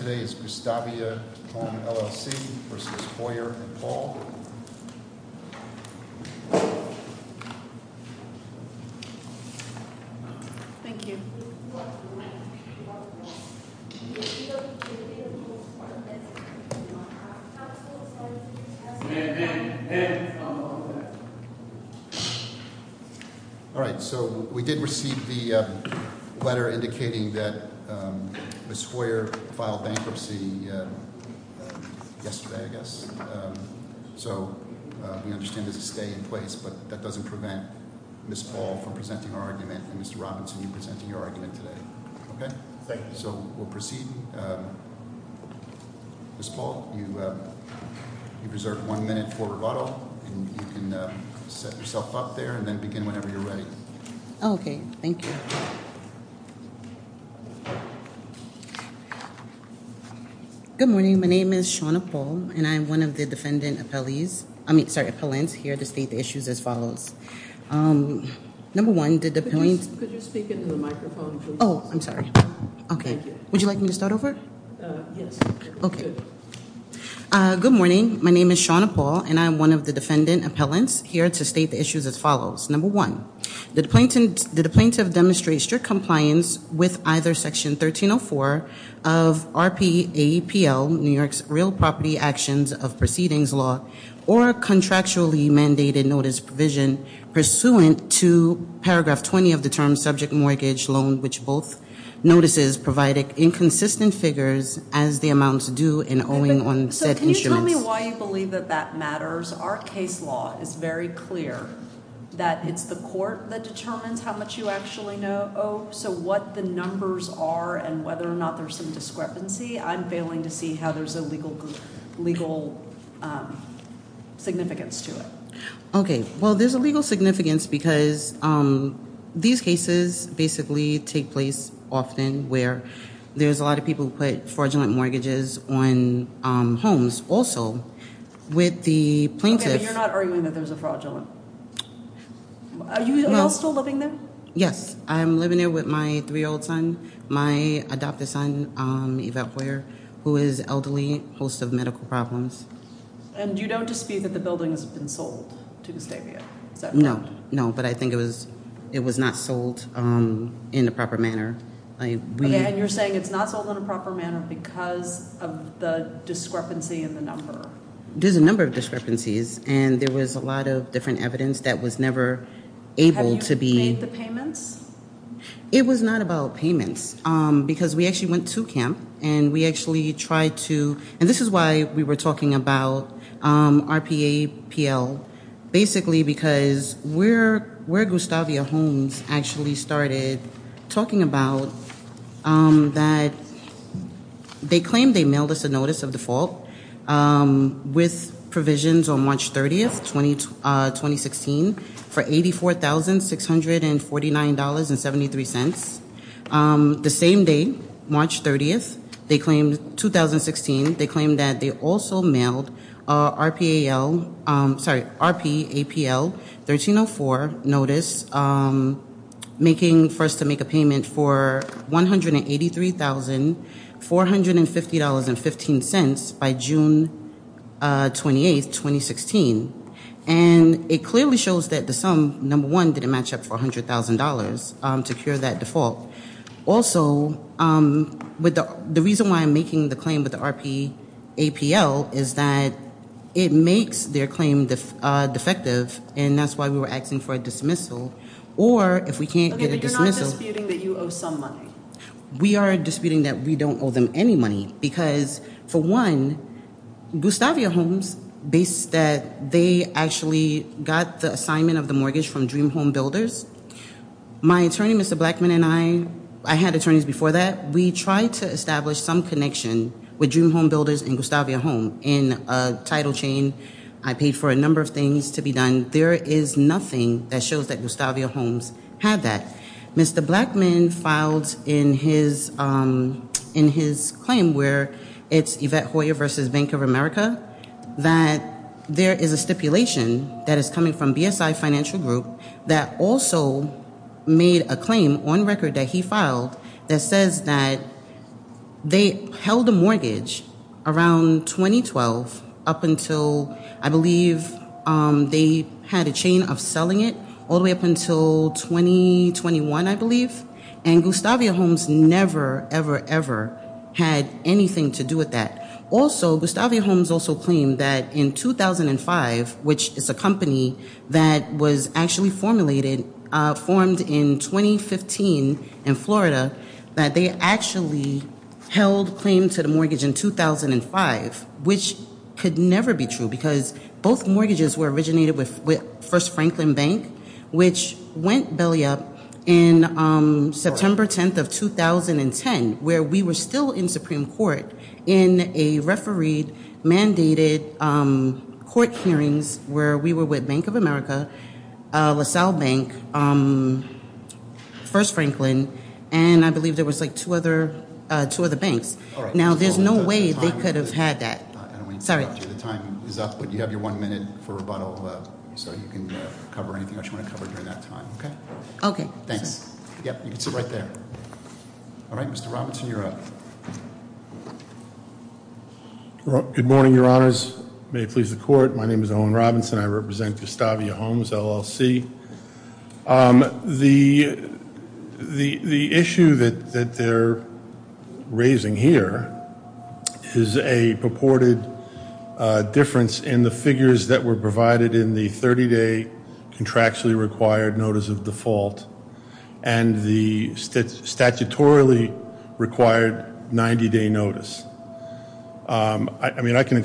and Paul Thank you. Alright so we did receive the letter indicating that Ms. Hoyer filed bankruptcy yesterday, I guess. So we understand there's a stay in place but that doesn't prevent Ms. Paul from presenting our argument and Mr. Robinson from presenting your argument today. Okay, so we'll proceed. Ms. Paul, you preserved one minute for rebuttal and you can set yourself up there and then thank you. Good morning, my name is Shauna Paul and I'm one of the defendant appellees, I mean sorry, appellants here to state the issues as follows. Number one, did the point, oh I'm sorry, okay, would you like me to start over? Okay, good morning, my name is Shauna Paul and I'm one of the defendant appellants here to state the issues as follows. Number one, did the plaintiff demonstrate strict compliance with either section 1304 of RPAPL, New York's Real Property Actions of Proceedings Law or contractually mandated notice provision pursuant to paragraph 20 of the term subject mortgage loan which both notices provide inconsistent figures as the amounts due and owing on said instruments. Tell me why you believe that that matters. Our case law is very clear that it's the court that determines how much you actually owe, so what the numbers are and whether or not there's some discrepancy, I'm failing to see how there's a legal significance to it. Okay, well there's a legal significance because these cases basically take place often where there's a lot of people who put with the plaintiff. Okay, you're not arguing that there's a fraudulent. Are you still living there? Yes, I'm living there with my three-year-old son, my adopted son, Yvette Boyer, who is elderly, host of medical problems. And you don't dispute that the building has been sold to Gustavia? No, no, but I think it was it was not sold in a proper manner. And you're saying it's not sold in a proper manner because of the discrepancy in the number? There's a number of discrepancies and there was a lot of different evidence that was never able to be... Have you made the payments? It was not about payments because we actually went to camp and we actually tried to, and this is why we were talking about RPAPL, basically because we're where Gustavia Holmes actually started talking about that they claimed they mailed us a notice of default with provisions on March 30th, 2016 for eighty four thousand six hundred and forty nine dollars and seventy three cents. The same day, March 30th, they claimed, 2016, they claimed that they also mailed RPAPL 1304 notice, making for us to make a payment for one hundred and eighty three thousand four hundred and fifty dollars and fifteen cents by June 28, 2016. And it clearly shows that the sum, number one, didn't match up for a hundred thousand dollars to cure that default. Also, the reason why I'm making the claim with the RPAPL is that it makes their claim defective and that's why we were asking for a dismissal or if we can't get a dismissal... Okay, but you're not disputing that you owe some money? We are disputing that we don't owe them any money because, for one, Gustavia Holmes, based that they actually got the assignment of the mortgage from Dream Home Builders, my attorney, Mr. Blackman, and I, I had established some connection with Dream Home Builders and Gustavia Holmes in a title chain. I paid for a number of things to be done. There is nothing that shows that Gustavia Holmes had that. Mr. Blackman filed in his claim where it's Yvette Hoyer versus Bank of America that there is a stipulation that is coming from BSI that also made a claim on record that he filed that says that they held a mortgage around 2012 up until, I believe, they had a chain of selling it all the way up until 2021, I believe, and Gustavia Holmes never, ever, ever had anything to do with that. Also, Gustavia Holmes also claimed that in 2005, which is a company that was actually formulated, formed in 2015 in Florida, that they actually held claim to the mortgage in 2005, which could never be true because both mortgages were originated with First Franklin Bank, which went belly up in September 10th of 2010, where we were still in Supreme Court in a referee-mandated court hearings where we were with Bank of America, LaSalle Bank, First Franklin, and I believe there was like two other banks. Now, there's no way they could have had that. I don't want to interrupt you. The time is up, but you have your one minute for rebuttal, so you can cover anything else you want to cover during that time. Okay? Okay. Thanks. Yep, you can sit right there. All right, Mr. Robinson, you're up. Good morning, Your Honors. May it please the court, my name is Owen Robinson. I represent Gustavia Holmes, LLC. The issue that they're raising here is a purported difference in the figures that were provided in the 30-day contractually required notice of default and the statutorily required 90-day notice. I mean, I can,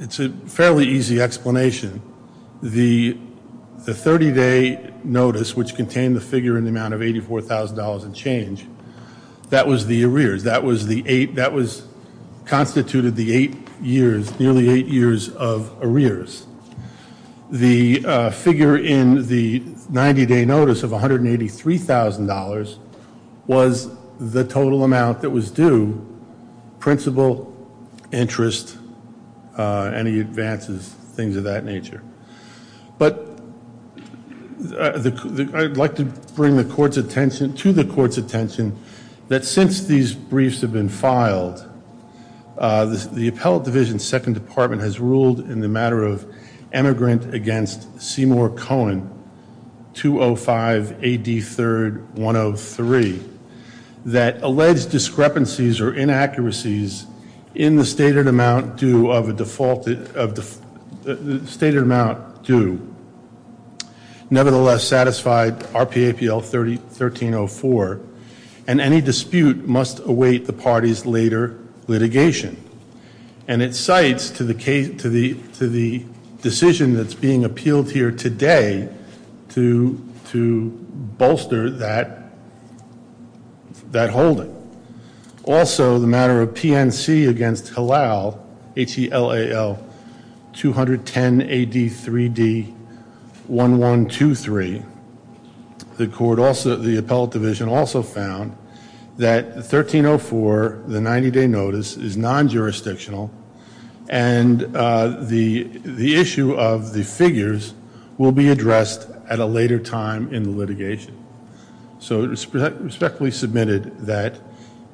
it's a fairly easy explanation. The 30-day notice, which contained the figure in the amount of $84,000 and change, that was the arrears. That was the eight, that was constituted the eight years, nearly eight years of the figure in the 90-day notice of $183,000 was the total amount that was due, principal, interest, any advances, things of that nature. But, I'd like to bring the court's attention, to the court's attention, that since these briefs have been filed, the Appellate Division Second Department has ruled in the matter of emigrant against Seymour Cohen, 205 AD 3rd 103, that alleged discrepancies or inaccuracies in the stated amount due of a defaulted, of the stated amount due, nevertheless satisfied RPAPL 1304, and any dispute must await the party's later litigation. And it cites to the case, to the, to the decision that's being appealed here today, to, to bolster that, that holding. Also, the matter of PNC against Halal, H-E-L-A-L, 210 AD 3d 1123, the court also, the Appellate Division, also found that 1304, the 90-day notice, is non-jurisdictional and the, the issue of the figures will be addressed at a later time in the litigation. So, it was respectfully submitted that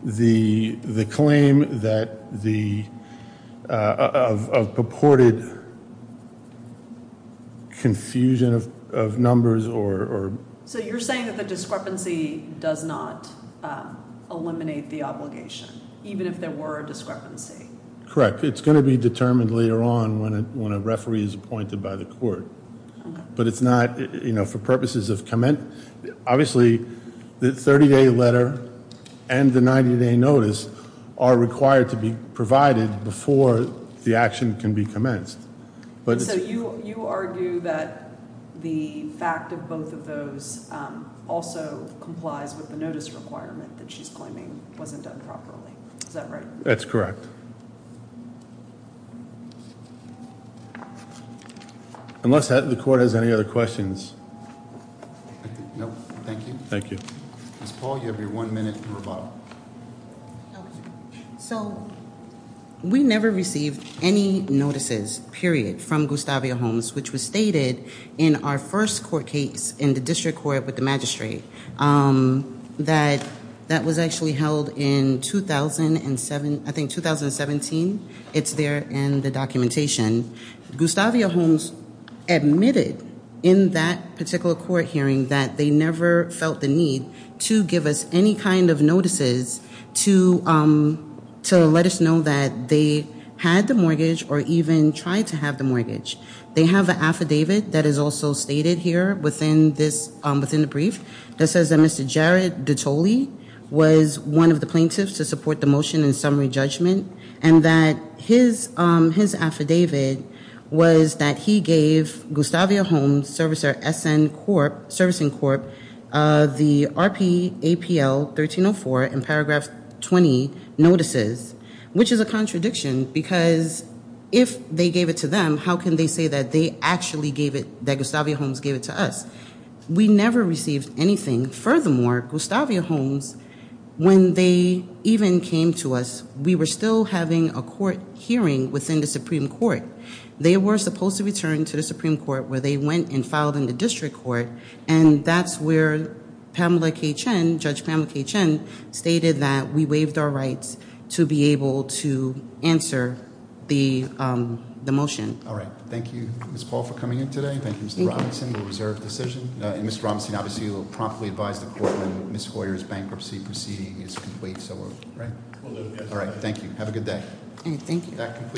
the, the claim that the, of purported confusion of numbers or... So, you're saying that the discrepancy does not eliminate the obligation, even if there were a discrepancy? Correct. It's going to be determined later on when a, when a referee is appointed by the court. But it's not, you know, for purposes of comment, obviously the 30-day letter and the 90-day notice are required to be provided before the action can be commenced. But... So, you, you argue that the fact of both of those also complies with the notice requirement that she's claiming wasn't done properly. Is that right? That's correct. Unless the court has any other questions. No, thank you. Thank you. Ms. Paul, you have your one minute and rebuttal. So, we never received any notices, period, from Gustavia Holmes, which was stated in our first court case in the district court with the magistrate. That, that was actually held in 2007, I think 2017. It's there in the documentation. Gustavia Holmes admitted in that particular court hearing that they never felt the need to give us any kind of notices to, to let us know that they had the mortgage or even tried to have the mortgage. They have an affidavit that is also stated here within this, within the brief, that says that Mr. Jared Dottoli was one of the plaintiffs to support the motion in summary judgment and that his, his affidavit was that he gave Gustavia Holmes, servicer SN Corp, servicing corp, the RP APL 1304 in paragraph 20 notices, which is a contradiction because if they gave it to them, how can they say that they actually gave it, that Gustavia Holmes gave it to us? We never received anything. Furthermore, Gustavia Holmes, when they even came to us, we were still having a court hearing within the Supreme Court. They were supposed to return to the Supreme Court where they went and filed in the district court and that's where Pamela K. Chen, Judge Pamela K. Chen, stated that we waived our rights to be able to answer the, the motion. All right. Thank you, Ms. Paul, for coming in today. Thank you, Mr. Robinson, the reserved decision. And Mr. Robinson, obviously you will promptly advise the court when Ms. Goyer's bankruptcy proceeding is complete, so we're, right? All right. Thank you. Have a good day.